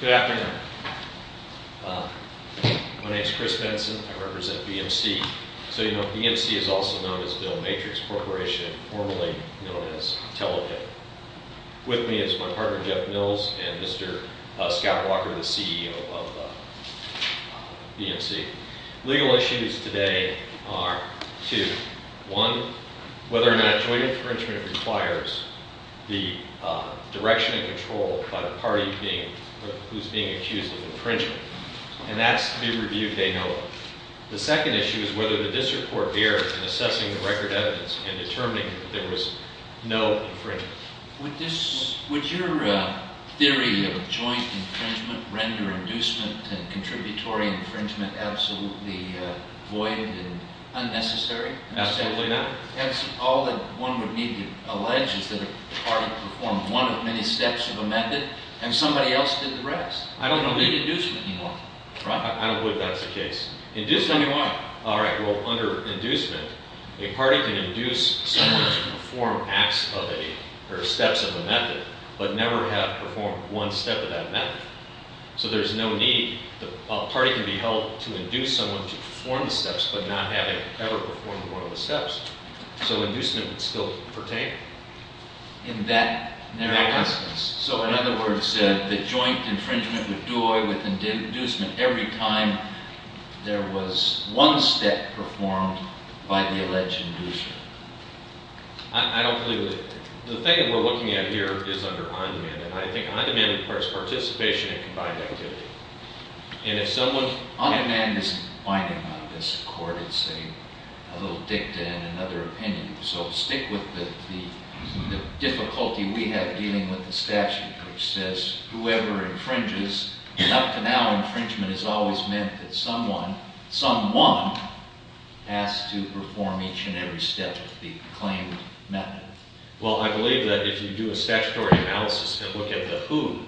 Good afternoon. My name is Chris Benson. I represent BMC. So you know, BMC is also known as Bill Matrix Corporation, formerly known as Telebit. With me is my partner Jeff Mills and Mr. Scott Walker, the CEO of BMC. Legal issues today are two. One, whether or not joint infringement requires the direction and control by the party who's being accused of infringement. And that's to be reviewed day and night. The second issue is whether the district court bears in assessing the record evidence and determining that there was no infringement. Would your theory of joint infringement render inducement and contributory infringement absolutely void and unnecessary? Absolutely not. All that one would need to allege is that a party performed one of many steps of a method and somebody else did the rest. I don't believe that's the case. Induce when you want. All right. Well, under inducement, a party can induce someone to perform acts of a, or steps of a method, but never have performed one step of that method. So there's no need. A party can be held to induce someone to perform the steps, but not having ever performed one of the steps. So inducement would still pertain. So in other words, the joint infringement would do away with inducement every time there was one step performed by the alleged inducer. I don't believe that. The thing that we're looking at here is under on-demand. And I think on-demand requires participation in combined activity. And if someone… On-demand isn't binding on this court. It's a little dicta and another opinion. So stick with the difficulty we have dealing with the statute, which says whoever infringes, up to now infringement has always meant that someone, someone, has to perform each and every step of the claimed method. Well, I believe that if you do a statutory analysis and look at the who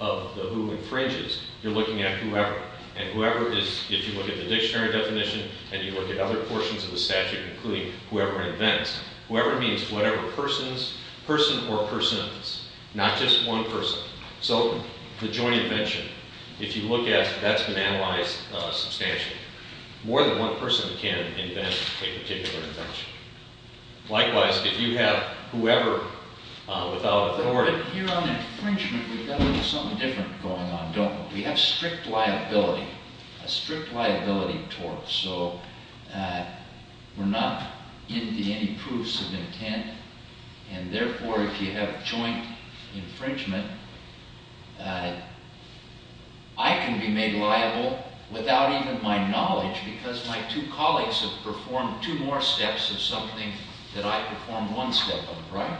of the who infringes, you're looking at whoever. And whoever is, if you look at the dictionary definition and you look at other portions of the statute, including whoever invents, whoever means whatever persons, person or persons, not just one person. So the joint invention, if you look at, that's been analyzed substantially. More than one person can invent a particular invention. Likewise, if you have whoever without authority… But here on infringement, we've got something different going on, don't we? We have strict liability, a strict liability tort. So we're not into any proofs of intent. And therefore, if you have joint infringement, I can be made liable without even my knowledge because my two colleagues have performed two more steps of something that I performed one step of, right?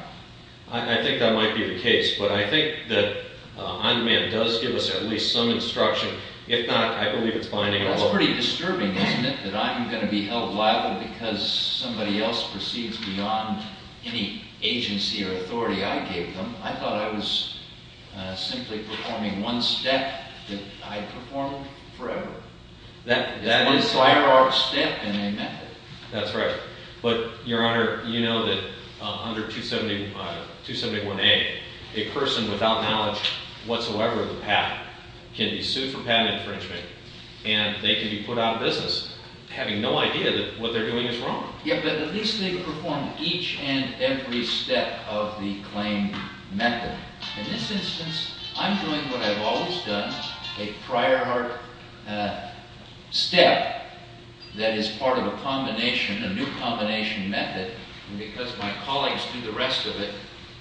I think that might be the case. But I think that on-demand does give us at least some instruction. If not, I believe it's binding on… That's pretty disturbing, isn't it, that I'm going to be held liable because somebody else proceeds beyond any agency or authority I gave them? I thought I was simply performing one step that I performed forever. That is… One firearm step and they met it. That's right. But, Your Honor, you know that under 271A, a person without knowledge whatsoever of the patent can be sued for patent infringement and they can be put out of business having no idea that what they're doing is wrong. Yeah, but at least they've performed each and every step of the claim method. In this instance, I'm doing what I've always done, a prior art step that is part of a combination, a new combination method, and because my colleagues do the rest of it,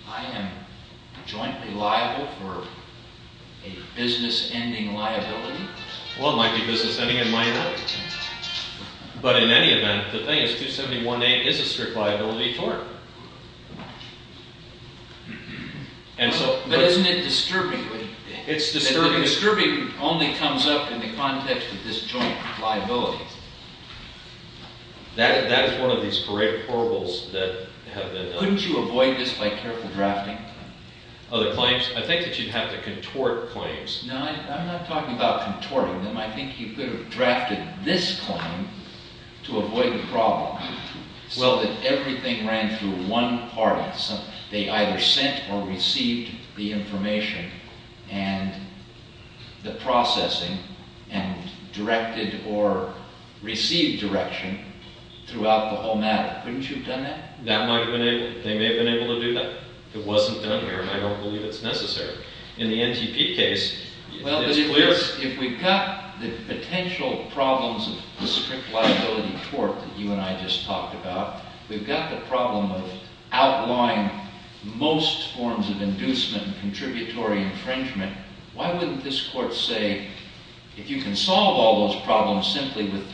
I am jointly liable for a business-ending liability? Well, it might be business-ending in my event. But in any event, the thing is 271A is a strict liability for it. But isn't it disturbingly? It's disturbingly. It's disturbing only comes up in the context of this joint liability. That is one of these great horribles that have been… Couldn't you avoid this by careful drafting? Other claims? I think that you'd have to contort claims. No, I'm not talking about contorting them. I think you could have drafted this claim to avoid the problem. Well, that everything ran through one party. They either sent or received the information and the processing and directed or received direction throughout the whole matter. Couldn't you have done that? They may have been able to do that. It wasn't done here, and I don't believe it's necessary. In the NTP case, it's clear… The potential problems of the strict liability tort that you and I just talked about, we've got the problem of outlawing most forms of inducement, contributory infringement. Why wouldn't this court say, if you can solve all those problems simply with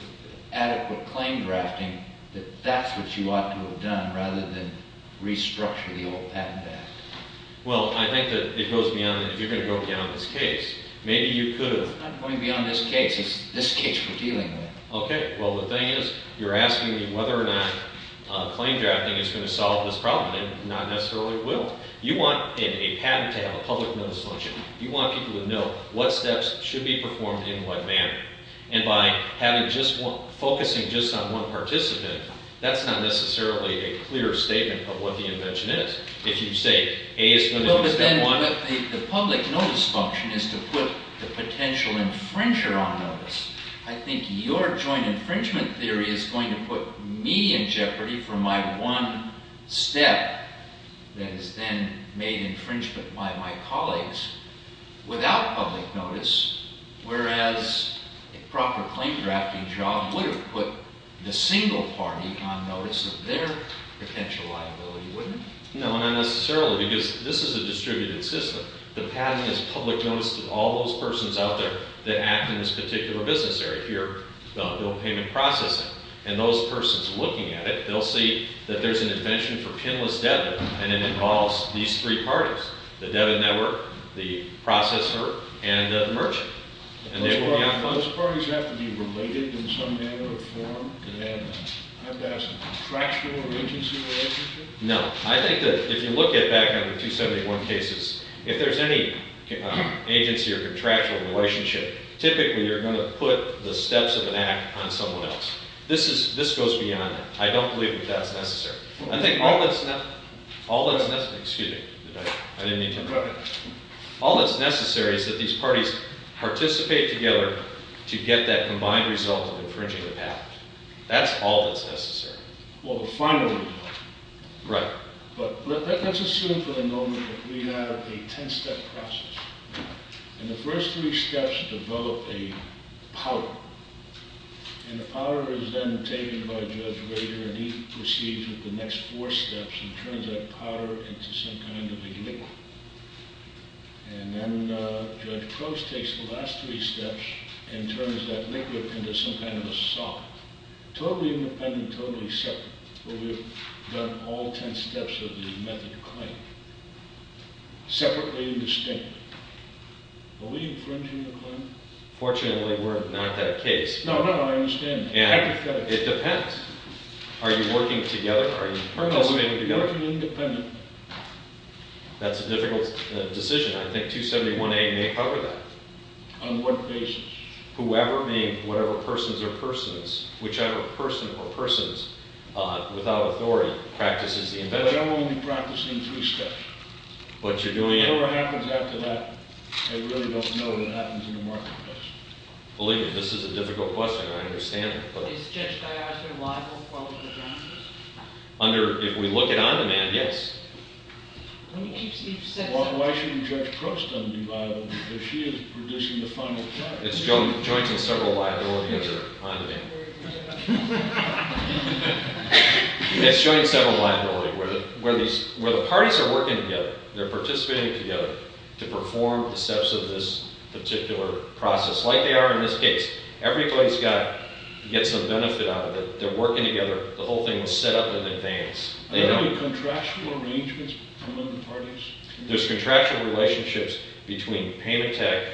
adequate claim drafting, that that's what you ought to have done rather than restructure the old patent act? Well, I think that it goes beyond that. You're going to go beyond this case. Maybe you could have… No, we're not going beyond this case. This case we're dealing with. Okay. Well, the thing is, you're asking me whether or not claim drafting is going to solve this problem, and it not necessarily will. You want in a patent to have a public notice function. You want people to know what steps should be performed in what manner. And by focusing just on one participant, that's not necessarily a clear statement of what the invention is. If you say A is going to be step one… No, but the public notice function is to put the potential infringer on notice. I think your joint infringement theory is going to put me in jeopardy for my one step that is then made infringement by my colleagues without public notice, whereas a proper claim drafting job would have put the single party on notice of their potential liability, wouldn't it? No, not necessarily, because this is a distributed system. The patent is public notice to all those persons out there that act in this particular business area here about bill payment processing. And those persons looking at it, they'll see that there's an invention for pinless debit, and it involves these three parties, the debit network, the processor, and the merchant. Those parties have to be related in some manner or form, and I'm asking, contractual or agency relationship? No. I think that if you look at back under 271 cases, if there's any agency or contractual relationship, typically you're going to put the steps of an act on someone else. This goes beyond that. I don't believe that that's necessary. I think all that's necessary is that these parties participate together to get that combined result of infringing the patent. That's all that's necessary. Well, finally, though. Right. Well, we've done all 10 steps of the method of claim separately and distinctly. Are we infringing the claim? Fortunately, we're not that case. No, no, I understand that. And it depends. Are you working together? Are you participating together? No, we're working independently. That's a difficult decision. I think 271A may cover that. On what basis? Whoever being whatever persons or persons, whichever person or persons without authority practices the infringement. But I won't be practicing three steps. But you're doing... Whatever happens after that, I really don't know what happens in the marketplace. Believe me, this is a difficult question. I understand it, but... Is Judge Dias your liable for all of the damages? Under, if we look at on-demand, yes. Why shouldn't Judge Crookston be liable if she is producing the final judgment? It's joint in several liabilities under on-demand. It's joint in several liabilities where the parties are working together. They're participating together to perform the steps of this particular process. Like they are in this case. Everybody's got to get some benefit out of it. They're working together. The whole thing was set up in advance. Are there any contractual arrangements between the parties? There's contractual relationships between Payment Tech,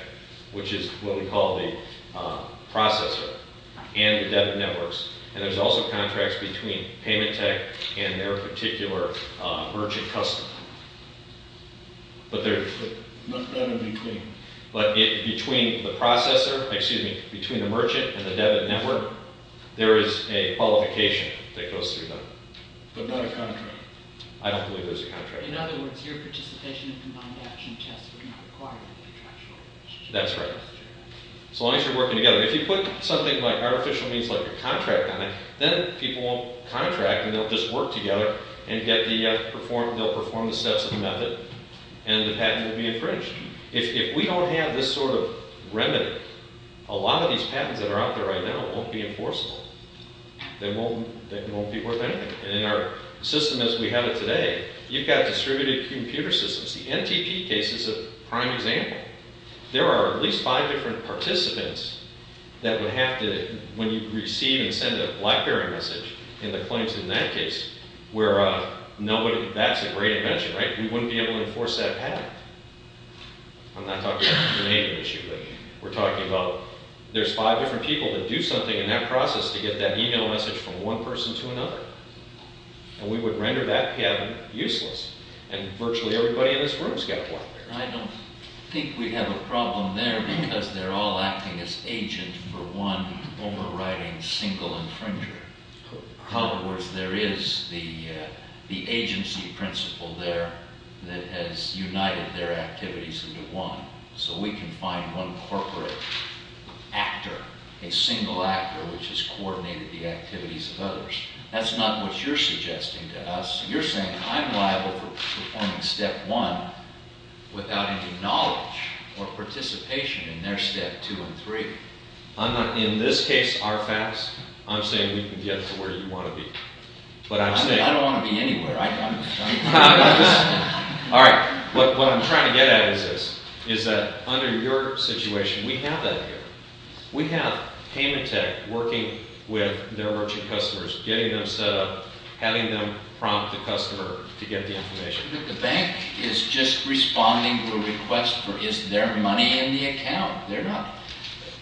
which is what we call the processor, and the debit networks. And there's also contracts between Payment Tech and their particular merchant customer. But between the processor, excuse me, between the merchant and the debit network, there is a qualification that goes through them. But not a contract? I don't believe there's a contract. In other words, your participation in combined action tests would not require a contractual arrangement? That's right. As long as you're working together. If you put something like artificial means like a contract on it, then people won't contract and they'll just work together and they'll perform the steps of the method and the patent will be infringed. If we don't have this sort of remedy, a lot of these patents that are out there right now won't be enforceable. They won't be worth anything. And in our system as we have it today, you've got distributed computer systems. The NTP case is a prime example. There are at least five different participants that would have to, when you receive and send a Blackberry message, in the claims in that case, where that's a great invention, right? We wouldn't be able to enforce that patent. I'm not talking about the Canadian issue, but we're talking about there's five different people that do something in that process to get that email message from one person to another. And we would render that patent useless. And virtually everybody in this room has got a Blackberry. I don't think we have a problem there because they're all acting as agents for one overriding single infringer. In other words, there is the agency principle there that has united their activities into one. So we can find one corporate actor, a single actor, which has coordinated the activities of others. That's not what you're suggesting to us. You're saying I'm liable for performing step one without any knowledge or participation in their step two and three. In this case, RFAS, I'm saying we can get to where you want to be. I don't want to be anywhere. All right. What I'm trying to get at is this, is that under your situation, we have that here. We have Paymentech working with their merchant customers, getting them set up, having them prompt the customer to get the information. But the bank is just responding to a request for is there money in the account? They're not.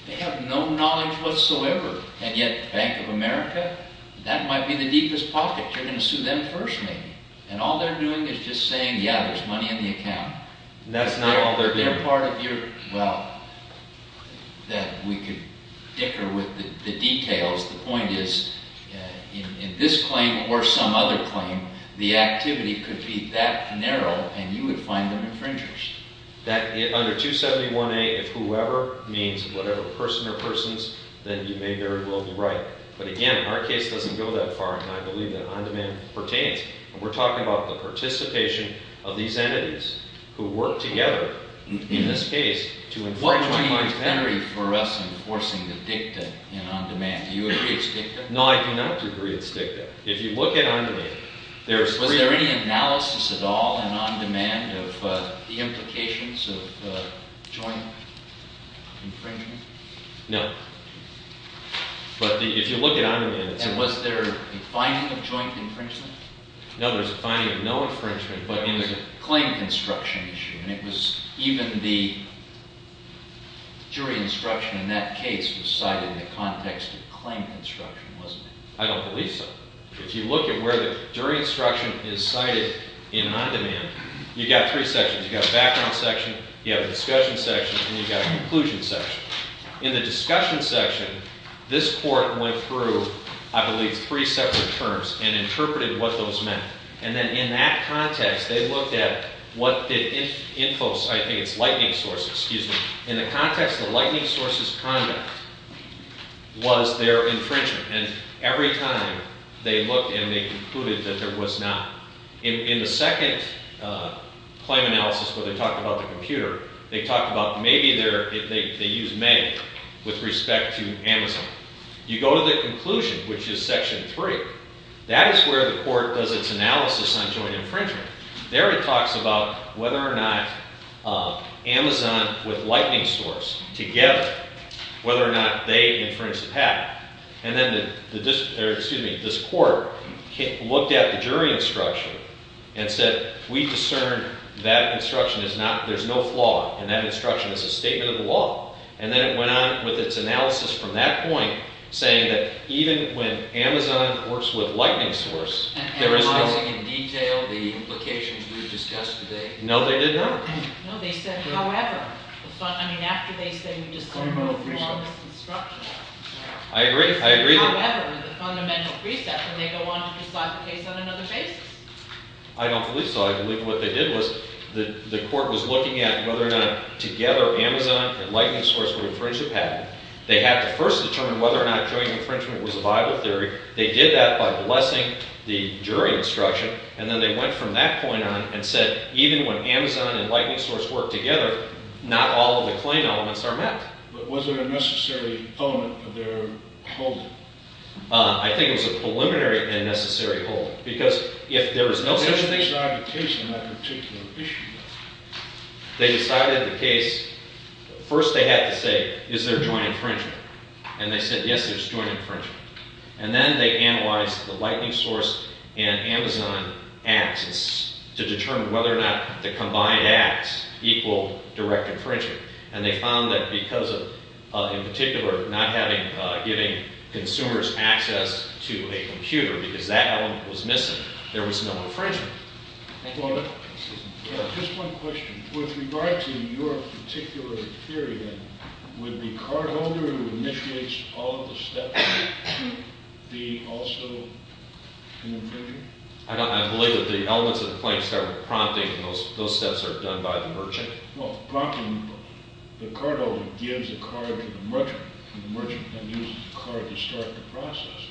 They have no knowledge whatsoever. And yet Bank of America, that might be the deepest pocket. You're going to sue them first, maybe. And all they're doing is just saying, yeah, there's money in the account. That's not all they're doing. They're part of your – well, that we could dicker with the details. The point is in this claim or some other claim, the activity could be that narrow, and you would find them infringers. Under 271A, if whoever means whatever person or persons, then you may very well be right. But again, our case doesn't go that far, and I believe that on-demand pertains. We're talking about the participation of these entities who work together in this case to infringe on my penalty. What would be inventory for us enforcing the dicta in on-demand? Do you agree it's dicta? No, I do not agree it's dicta. If you look at on-demand, there's three – Was there any analysis at all in on-demand of the implications of joint infringement? No. But if you look at on-demand, it's – And was there a finding of joint infringement? No, there was a finding of no infringement, but in the – It was a claim construction issue, and it was even the jury instruction in that case was cited in the context of claim construction, wasn't it? I don't believe so. If you look at where the jury instruction is cited in on-demand, you've got three sections. You've got a background section, you have a discussion section, and you've got a conclusion section. In the discussion section, this court went through, I believe, three separate terms and interpreted what those meant. And then in that context, they looked at what the – Infos, I think it's Lightning Source, excuse me. In the context of Lightning Source's conduct was their infringement, and every time they looked and they concluded that there was not. In the second claim analysis where they talked about the computer, they talked about maybe they used May with respect to Amazon. You go to the conclusion, which is section three. That is where the court does its analysis on joint infringement. There it talks about whether or not Amazon with Lightning Source together, whether or not they infringed the patent. And then the – or excuse me, this court looked at the jury instruction and said we discern that instruction is not – there's no flaw in that instruction. It's a statement of the law. And then it went on with its analysis from that point saying that even when Amazon works with Lightning Source, there is no – And were they discussing in detail the implications we've discussed today? No, they did not. No, they said however. I mean, after they said we discern no flaw in this instruction. I agree. I agree. However, the fundamental precept, and they go on to decide the case on another basis. I don't believe so. I believe what they did was the court was looking at whether or not together Amazon and Lightning Source would infringe the patent. They had to first determine whether or not joint infringement was a viable theory. They did that by blessing the jury instruction, and then they went from that point on and said even when Amazon and Lightning Source work together, not all of the claim elements are met. But was there a necessary element of their holding? I think it was a preliminary and necessary holding because if there was no such thing – How did they decide the case on that particular issue? They decided the case – first they had to say is there joint infringement? And they said yes, there's joint infringement. And then they analyzed the Lightning Source and Amazon ads to determine whether or not the combined ads equal direct infringement. And they found that because of, in particular, not having – giving consumers access to a computer because that element was missing, there was no infringement. Just one question. With regard to your particular theory then, would the cardholder who initiates all of the steps be also an infringer? I believe that the elements of the claim start with prompting, and those steps are done by the merchant. Well, prompting, the cardholder gives the card to the merchant, and the merchant then uses the card to start the process.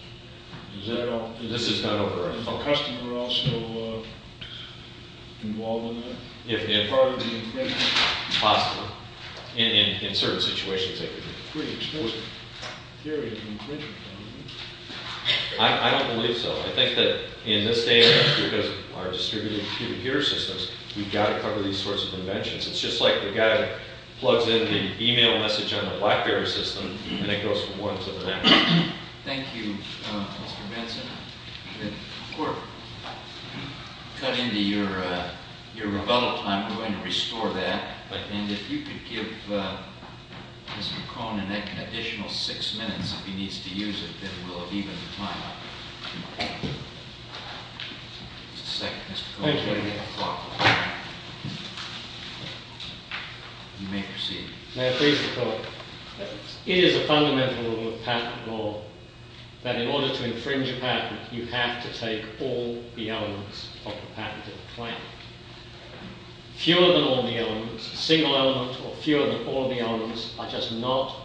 Is that all? This is done over and over. Is the customer also involved in that? If – Part of the infringement? Possibly. In certain situations, they could be. That's a pretty extensive theory of infringement. I don't believe so. I think that in this day and age, because of our distributed computer systems, we've got to cover these sorts of inventions. It's just like the guy plugs in the e-mail message on the Blackberry system, and it goes from one to the next. Thank you, Mr. Benson. Of course, cutting to your rebuttal time, we're going to restore that. And if you could give Mr. Cronin an additional six minutes, if he needs to use it, then we'll have evened the time out. Just a second, Mr. Cronin. Thank you. You may proceed. May I please report? It is a fundamental rule of patent law that in order to infringe a patent, you have to take all the elements of the patent of the claim. Fewer than all the elements, a single element or fewer than all the elements, are just not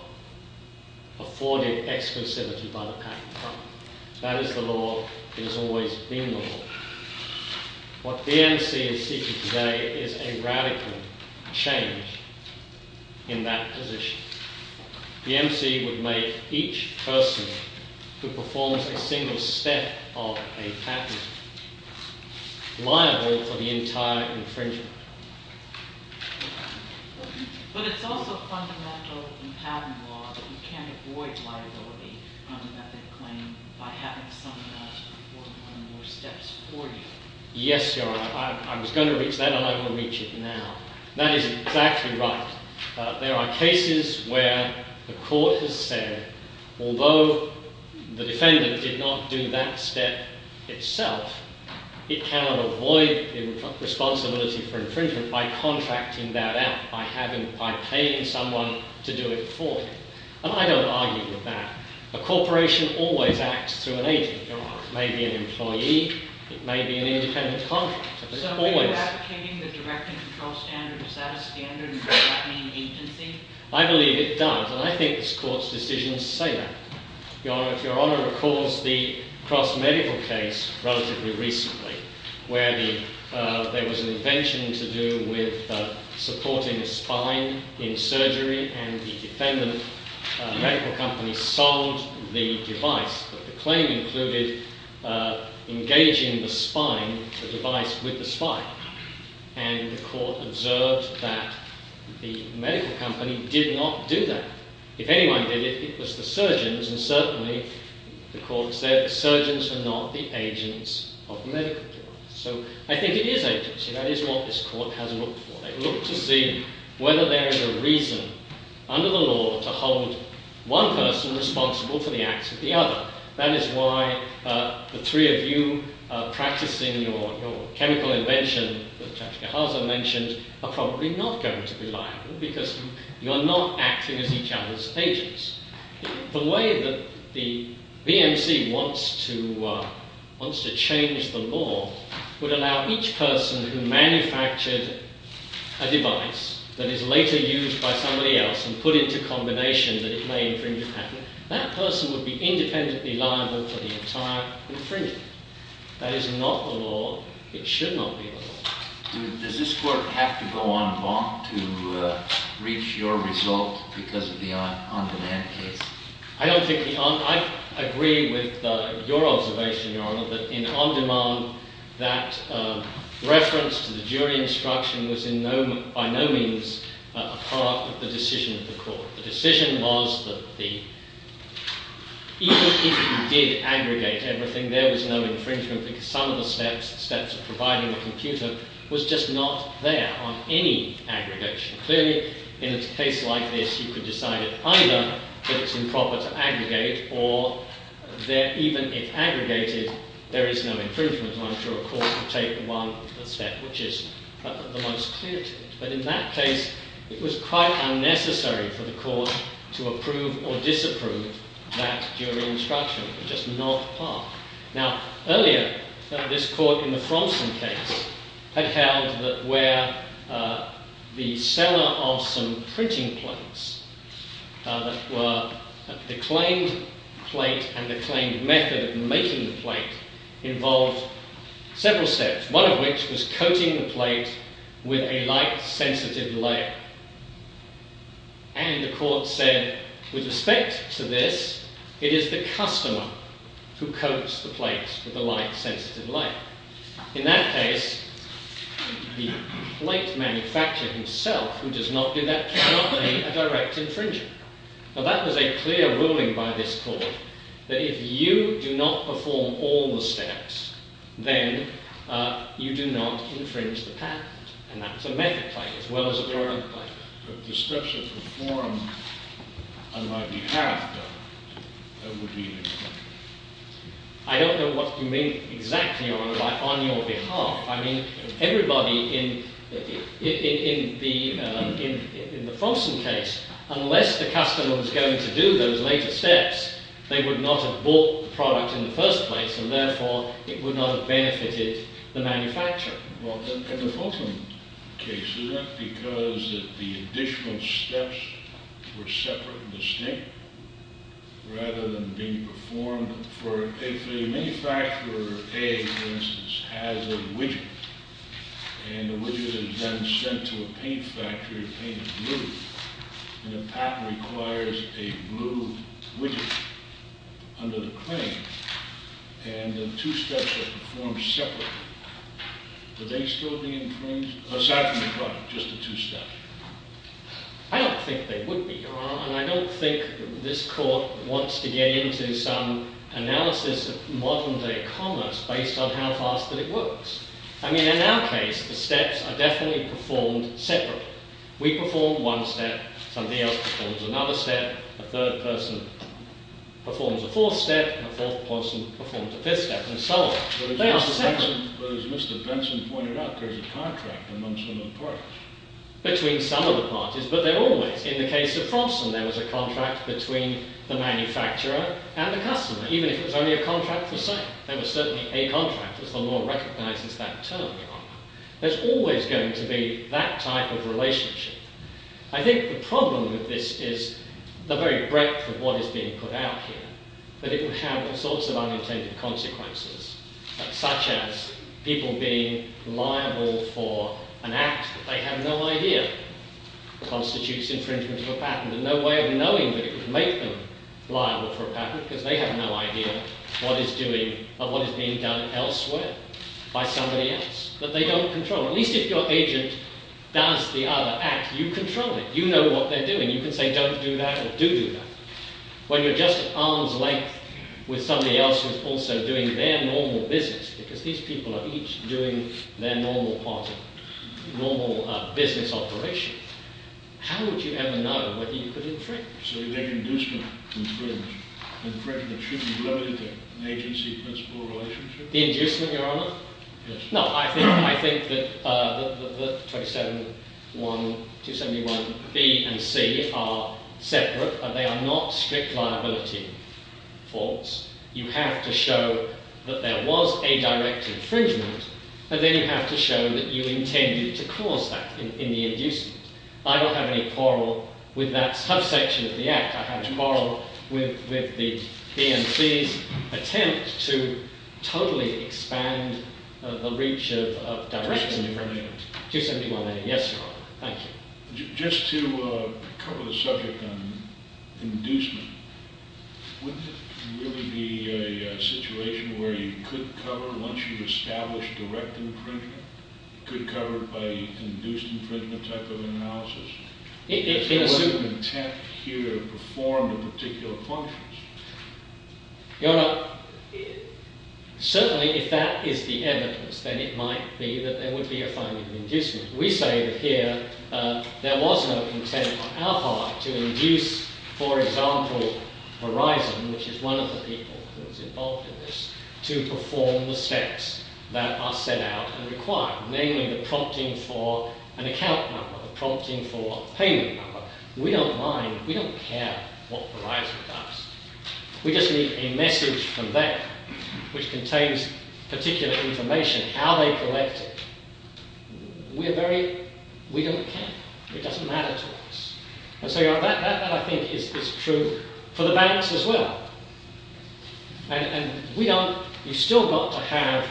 afforded exclusivity by the patent company. That is the law. It has always been the law. What BMC is seeking today is a radical change in that position. BMC would make each person who performs a single step of a patent liable for the entire infringement. But it's also fundamental in patent law that you can't avoid liability on a method claim by having someone else perform one or more steps for you. Yes, Your Honor. I was going to reach that, and I'm going to reach it now. That is exactly right. There are cases where the court has said, although the defendant did not do that step itself, it cannot avoid responsibility for infringement by contracting that out, by paying someone to do it for you. And I don't argue with that. A corporation always acts through an agent, Your Honor. It may be an employee. It may be an independent contractor. So when you're advocating the direct and controlled standard, is that a standard in contracting agency? I believe it does. And I think this court's decision is safe. Your Honor, if Your Honor recalls the cross-medical case relatively recently, where there was an invention to do with supporting a spine in surgery, and the defendant, the medical company, sold the device. But the claim included engaging the spine, the device, with the spine. And the court observed that the medical company did not do that. If anyone did it, it was the surgeons. And certainly, the court said, surgeons are not the agents of medical device. So I think it is agency. That is what this court has looked for. They've looked to see whether there is a reason under the law to hold one person responsible for the acts of the other. That is why the three of you practicing your chemical invention that Judge Gaharza mentioned are probably not going to be liable because you are not acting as each other's agents. The way that the BMC wants to change the law would allow each person who manufactured a device that is later used by somebody else and put into combination that it may infringe upon. That person would be independently liable for the entire infringement. That is not the law. It should not be the law. Does this court have to go on bond to reach your result because of the on-demand case? I agree with your observation, Your Honor, that in on-demand, that reference to the jury instruction was by no means a part of the decision of the court. The decision was that even if you did aggregate everything, there was no infringement because some of the steps of providing a computer was just not there on any aggregation. Clearly, in a case like this, you could decide either that it is improper to aggregate or even if aggregated, there is no infringement. I'm sure a court would take one step, which is the most clear to it. But in that case, it was quite unnecessary for the court to approve or disapprove that jury instruction. Just not part. Now, earlier, this court in the Fromsen case had held that where the seller of some printing plates that were the claimed plate and the claimed method of making the plate involved several steps. One of which was coating the plate with a light sensitive layer. And the court said, with respect to this, it is the customer who coats the plate with the light sensitive layer. In that case, the plate manufacturer himself who does not do that cannot be a direct infringer. Now, that was a clear ruling by this court. That if you do not perform all the steps, then you do not infringe the patent. And that's a method plate as well as a glory plate. But the steps are performed on my behalf, though. I don't know what you mean exactly, Your Honour, by on your behalf. I mean, everybody in the Fromsen case, unless the customer was going to do those later steps, they would not have bought the product in the first place. And therefore, it would not have benefited the manufacturer. Well, in the Folsom case, is that because the additional steps were separate and distinct rather than being performed? For a manufacturer, A, for instance, has a widget, and the widget is then sent to a paint factory to paint it blue. And the patent requires a blue widget under the claim. And the two steps are performed separately. Would they still be infringed? Aside from the product, just the two steps. I don't think they would be, Your Honour. And I don't think this court wants to get into some analysis of modern-day commerce based on how fast that it works. I mean, in our case, the steps are definitely performed separately. We perform one step, somebody else performs another step, a third person performs a fourth step, and a fourth person performs a fifth step, and so on. They are separate. But as Mr. Benson pointed out, there is a contract among some of the products. Between some of the parties, but they're always. In the case of Fromsen, there was a contract between the manufacturer and the customer, even if it was only a contract for sale. There was certainly a contract, as the law recognizes that term, Your Honour. There's always going to be that type of relationship. I think the problem with this is the very breadth of what is being put out here. That it would have all sorts of unintended consequences, such as people being liable for an act that they have no idea constitutes infringement of a patent. There's no way of knowing that it would make them liable for a patent because they have no idea what is being done elsewhere by somebody else that they don't control. At least if your agent does the other act, you control it. You know what they're doing. You can say don't do that or do do that. When you're just at arm's length with somebody else who's also doing their normal business, because these people are each doing their normal part of normal business operation, how would you ever know whether you could infringe? So you make inducement, infringe. Infringement should be limited to an agency principle relationship? The inducement, Your Honour? Yes. No, I think that 271B and C are separate. They are not strict liability faults. You have to show that there was a direct infringement, and then you have to show that you intended to cause that in the inducement. I don't have any quarrel with that subsection of the act. I have a quarrel with the B and C's attempt to totally expand the reach of direct infringement. 271A. Yes, Your Honour. Thank you. Just to cover the subject on inducement, wouldn't it really be a situation where you could cover, once you've established direct infringement, you could cover it by induced infringement type of analysis? If there was an intent here to perform a particular function. Your Honour, certainly if that is the evidence, then it might be that there would be a finding of inducement. We say that here there was no intent on our part to induce, for example, Verizon, which is one of the people who is involved in this, to perform the steps that are set out and required, namely the prompting for an account number, the prompting for a payment number. We don't mind, we don't care what Verizon does. We just need a message from them which contains particular information, how they collect it. We don't care. It doesn't matter to us. And so, Your Honour, that I think is true for the banks as well. And you've still got to have,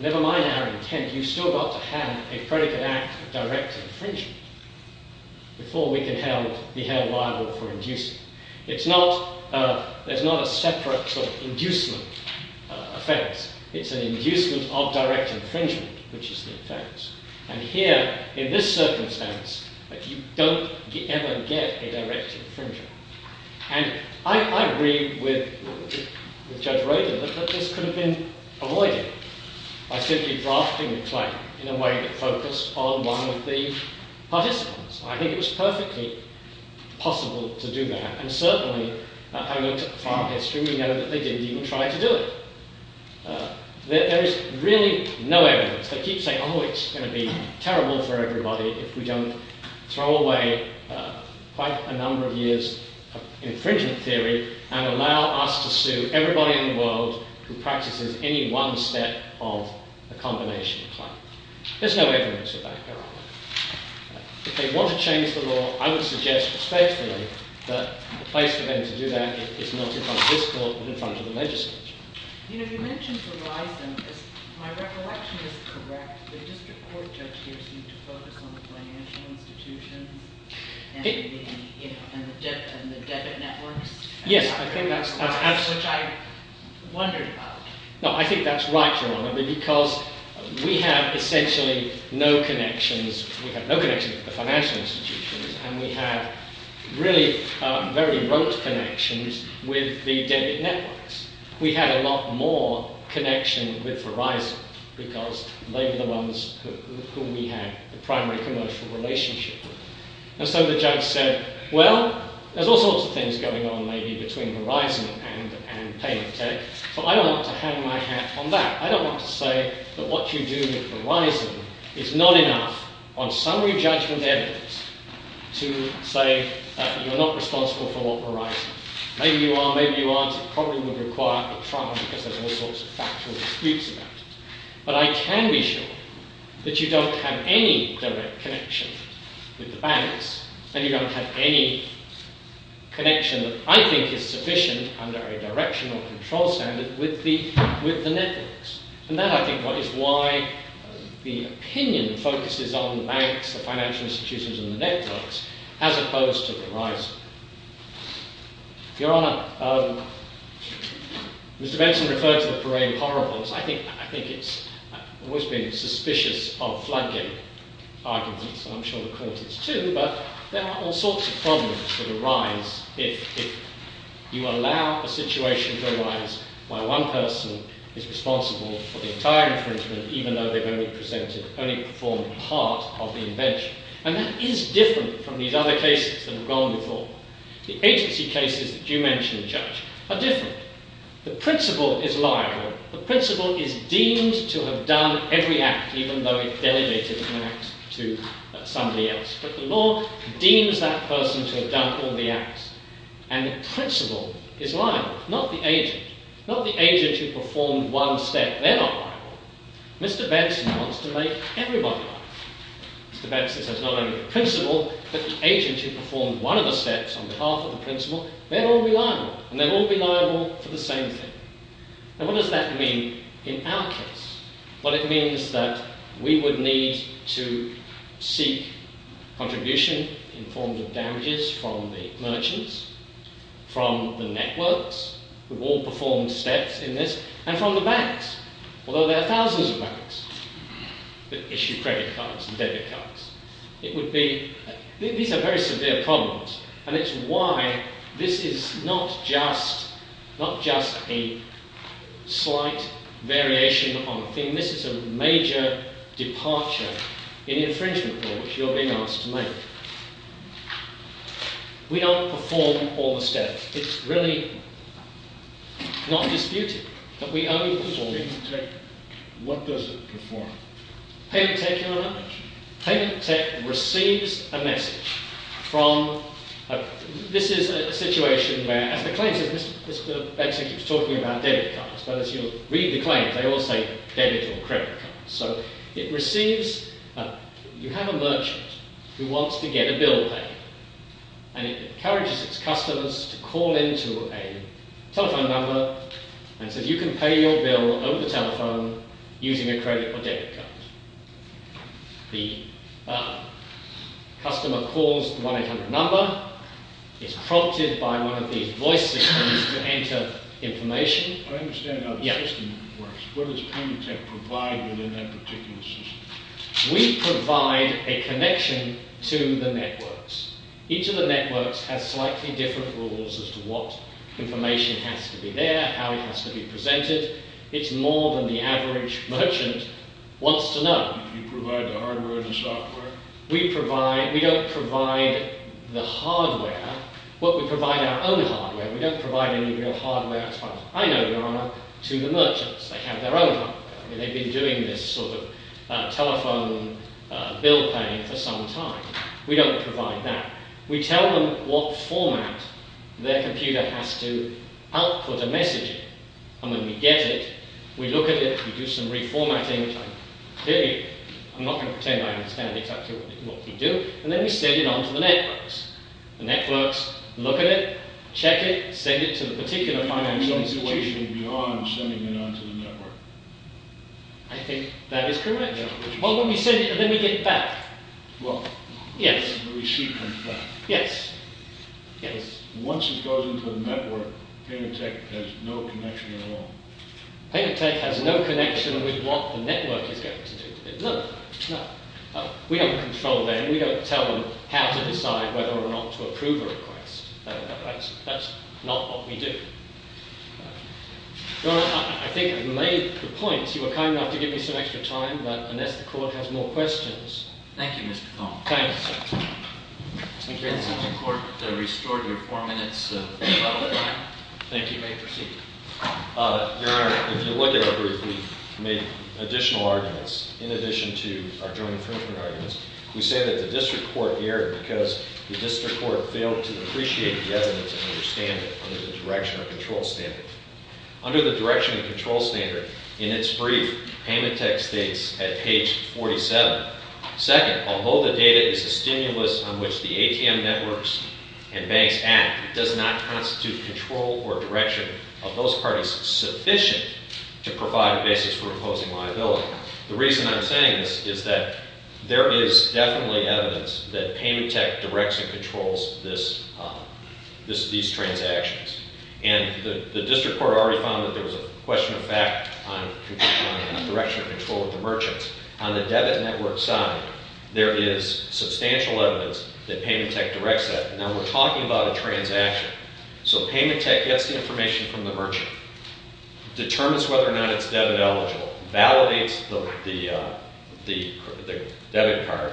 never mind our intent, you've still got to have a predicate act of direct infringement before we can be held liable for inducement. It's not, there's not a separate sort of inducement offense. It's an inducement of direct infringement, which is the offense. And here, in this circumstance, you don't ever get a direct infringement. And I agree with Judge Rader that this could have been avoided by simply drafting the claim in a way that focused on one of the participants. I think it was perfectly possible to do that. And certainly, having looked at the file history, we know that they didn't even try to do it. There is really no evidence. They keep saying, oh, it's going to be terrible for everybody if we don't throw away quite a number of years of infringement theory and allow us to sue everybody in the world who practices any one step of a combination claim. There's no evidence of that, Your Honour. If they want to change the law, I would suggest respectfully that the place for them to do that is not in front of this court but in front of the legislature. You know, you mentioned Verizon. My recollection is correct. The district court judge here seemed to focus on the financial institutions and the debit networks. Yes, I think that's absolutely right. Which I wondered about. No, I think that's right, Your Honour, because we have essentially no connections. We have no connections with the financial institutions and we have really very rote connections with the debit networks. We had a lot more connection with Verizon because they were the ones who we had the primary commercial relationship with. And so the judge said, well, there's all sorts of things going on maybe between Verizon and Payment Tech. So I don't want to hang my hat on that. I don't want to say that what you do with Verizon is not enough on summary judgment evidence to say that you're not responsible for what Verizon. Maybe you are, maybe you aren't. It probably would require a trial because there's all sorts of factual disputes about it. But I can be sure that you don't have any direct connection with the banks and you don't have any connection that I think is sufficient under a directional control standard with the networks. And that, I think, is why the opinion focuses on banks, the financial institutions and the networks as opposed to Verizon. Your Honor, Mr. Benson referred to the parade of horribles. I think it's always been suspicious of floodgate arguments. I'm sure the court is too. But there are all sorts of problems that arise if you allow a situation to arise where one person is responsible for the entire infringement even though they've only performed part of the invention. And that is different from these other cases that have gone before. The agency cases that you mentioned, Judge, are different. The principal is liable. The principal is deemed to have done every act even though it delegated an act to somebody else. But the law deems that person to have done all the acts. And the principal is liable, not the agent. Not the agent who performed one step. They're not liable. Mr. Benson wants to make everybody liable. Mr. Benson says not only the principal, but the agent who performed one of the steps on behalf of the principal, they'd all be liable. And they'd all be liable for the same thing. And what does that mean in our case? Well, it means that we would need to seek contribution in forms of damages from the merchants, from the networks, who've all performed steps in this, and from the banks. Although there are thousands of banks that issue credit cards and debit cards. These are very severe problems. And it's why this is not just a slight variation on a thing. This is a major departure in the infringement law which you're being asked to make. We don't perform all the steps. It's really not disputed that we only perform the steps. What does it perform? Payment tech, Your Honour. Payment tech receives a message from... This is a situation where, as the claim says, Mr. Benson keeps talking about debit cards. But as you'll read the claim, they all say debit or credit cards. So it receives... You have a merchant who wants to get a bill paid. And it encourages its customers to call into a telephone number and say, You can pay your bill over the telephone using a credit or debit card. The customer calls the 1-800 number, is prompted by one of these voice systems to enter information. I understand how the system works. What does payment tech provide within that particular system? We provide a connection to the networks. Each of the networks has slightly different rules as to what information has to be there, how it has to be presented. It's more than the average merchant wants to know. You provide the hardware and software? We provide... We don't provide the hardware. Well, we provide our own hardware. We don't provide any real hardware. I know, Your Honour, to the merchants. They have their own hardware. They've been doing this sort of telephone bill paying for some time. We don't provide that. We tell them what format their computer has to output a message in. And when we get it, we look at it, we do some reformatting. Clearly, I'm not going to pretend I understand exactly what we do. And then we send it on to the networks. The networks look at it, check it, send it to the particular financial institution. I think that is correct. Well, when we send it, then we get it back. Well, the receipt comes back. Yes. Once it goes into the network, Paymentech has no connection at all. Paymentech has no connection with what the network is going to do. We don't control them. We don't tell them how to decide whether or not to approve a request. That's not what we do. No, I think I've made the point. You were kind enough to give me some extra time, but unless the court has more questions. Thank you, Mr. Thompson. Thank you, sir. The court restored your four minutes of public time. Thank you. You may proceed. Your Honor, if you look at it, we've made additional arguments in addition to our joint infringement arguments. We say that the district court erred because the district court failed to appreciate the evidence and understand it under the direction or control standard. Under the direction and control standard, in its brief, Paymentech states at page 47, Second, although the data is a stimulus on which the ATM networks and banks act, it does not constitute control or direction of those parties sufficient to provide a basis for imposing liability. The reason I'm saying this is that there is definitely evidence that Paymentech directs and controls these transactions. And the district court already found that there was a question of fact on direction and control of the merchants. On the debit network side, there is substantial evidence that Paymentech directs that. Now, we're talking about a transaction. So Paymentech gets the information from the merchant, determines whether or not it's debit eligible, validates the debit card,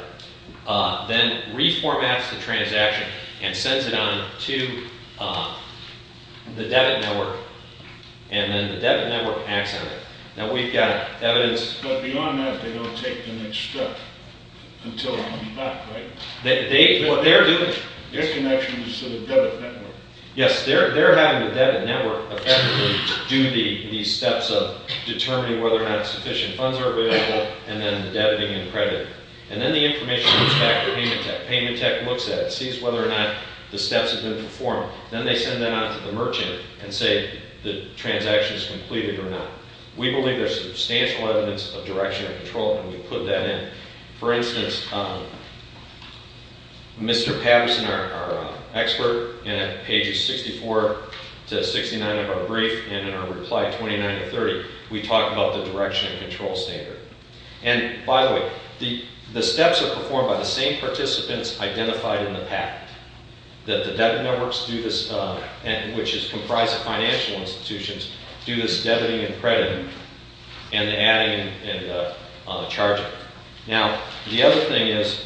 then reformats the transaction and sends it on to the debit network. And then the debit network acts on it. Now, we've got evidence. But beyond that, they don't take the next step until it comes back, right? What they're doing... Their connection is to the debit network. Yes, they're having the debit network effectively do these steps of determining whether or not sufficient funds are available and then the debiting and crediting. And then the information goes back to Paymentech. Paymentech looks at it, sees whether or not the steps have been performed. Then they send that on to the merchant and say the transaction is completed or not. We believe there's substantial evidence of direction and control, and we put that in. For instance, Mr. Patterson, our expert, in pages 64 to 69 of our brief and in our reply 29 to 30, we talk about the direction and control standard. And, by the way, the steps are performed by the same participants identified in the packet, that the debit networks do this, which is comprised of financial institutions, do this debiting and crediting and the adding and the charging. Now, the other thing is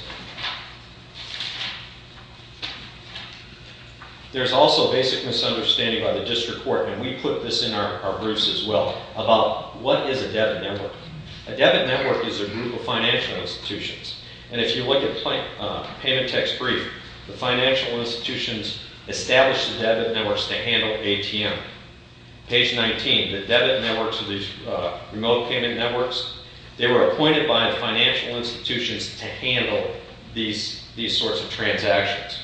there's also basic misunderstanding by the district court, and we put this in our briefs as well, about what is a debit network. A debit network is a group of financial institutions. And if you look at Paymentech's brief, the financial institutions establish the debit networks to handle ATM. Page 19, the debit networks are these remote payment networks. They were appointed by financial institutions to handle these sorts of transactions.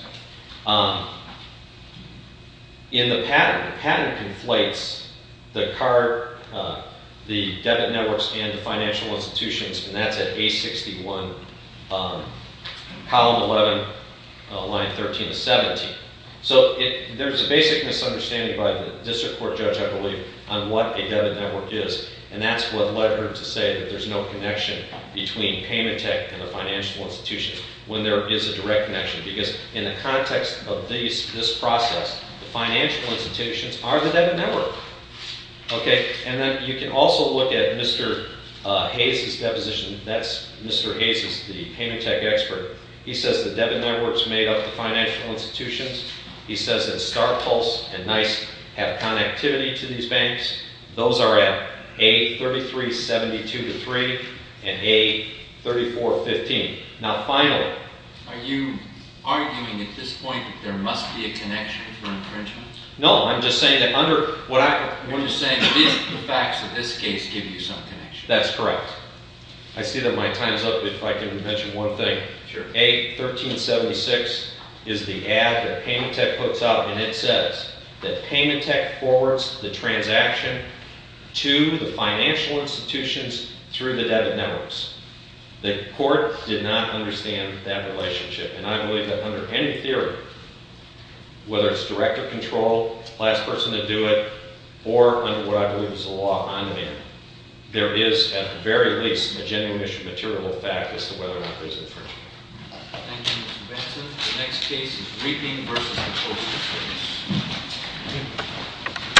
In the pattern, the pattern conflates the card, the debit networks, and the financial institutions, and that's at page 61, column 11, line 13 to 17. So there's a basic misunderstanding by the district court judge, I believe, on what a debit network is, and that's what led her to say that there's no connection between Paymentech and the financial institutions, when there is a direct connection, because in the context of this process, the financial institutions are the debit network. Okay, and then you can also look at Mr. Hayes' deposition. That's Mr. Hayes is the Paymentech expert. He says the debit networks made up the financial institutions. He says that StarPulse and Nice have connectivity to these banks. Those are at A3372-3 and A3415. Now, finally— Are you arguing at this point that there must be a connection for infringement? No, I'm just saying that under— You're just saying that the facts of this case give you some connection. That's correct. I see that my time is up, but if I can mention one thing. Sure. A1376 is the ad that Paymentech puts out, and it says that Paymentech forwards the transaction to the financial institutions through the debit networks. The court did not understand that relationship, and I believe that under any theory, whether it's directive control, the last person to do it, or under what I believe is a law on demand, there is at the very least a genuine issue of material fact as to whether or not there's infringement. Thank you, Mr. Benson. The next case is Reaping v. the Coastal Service. Thank you.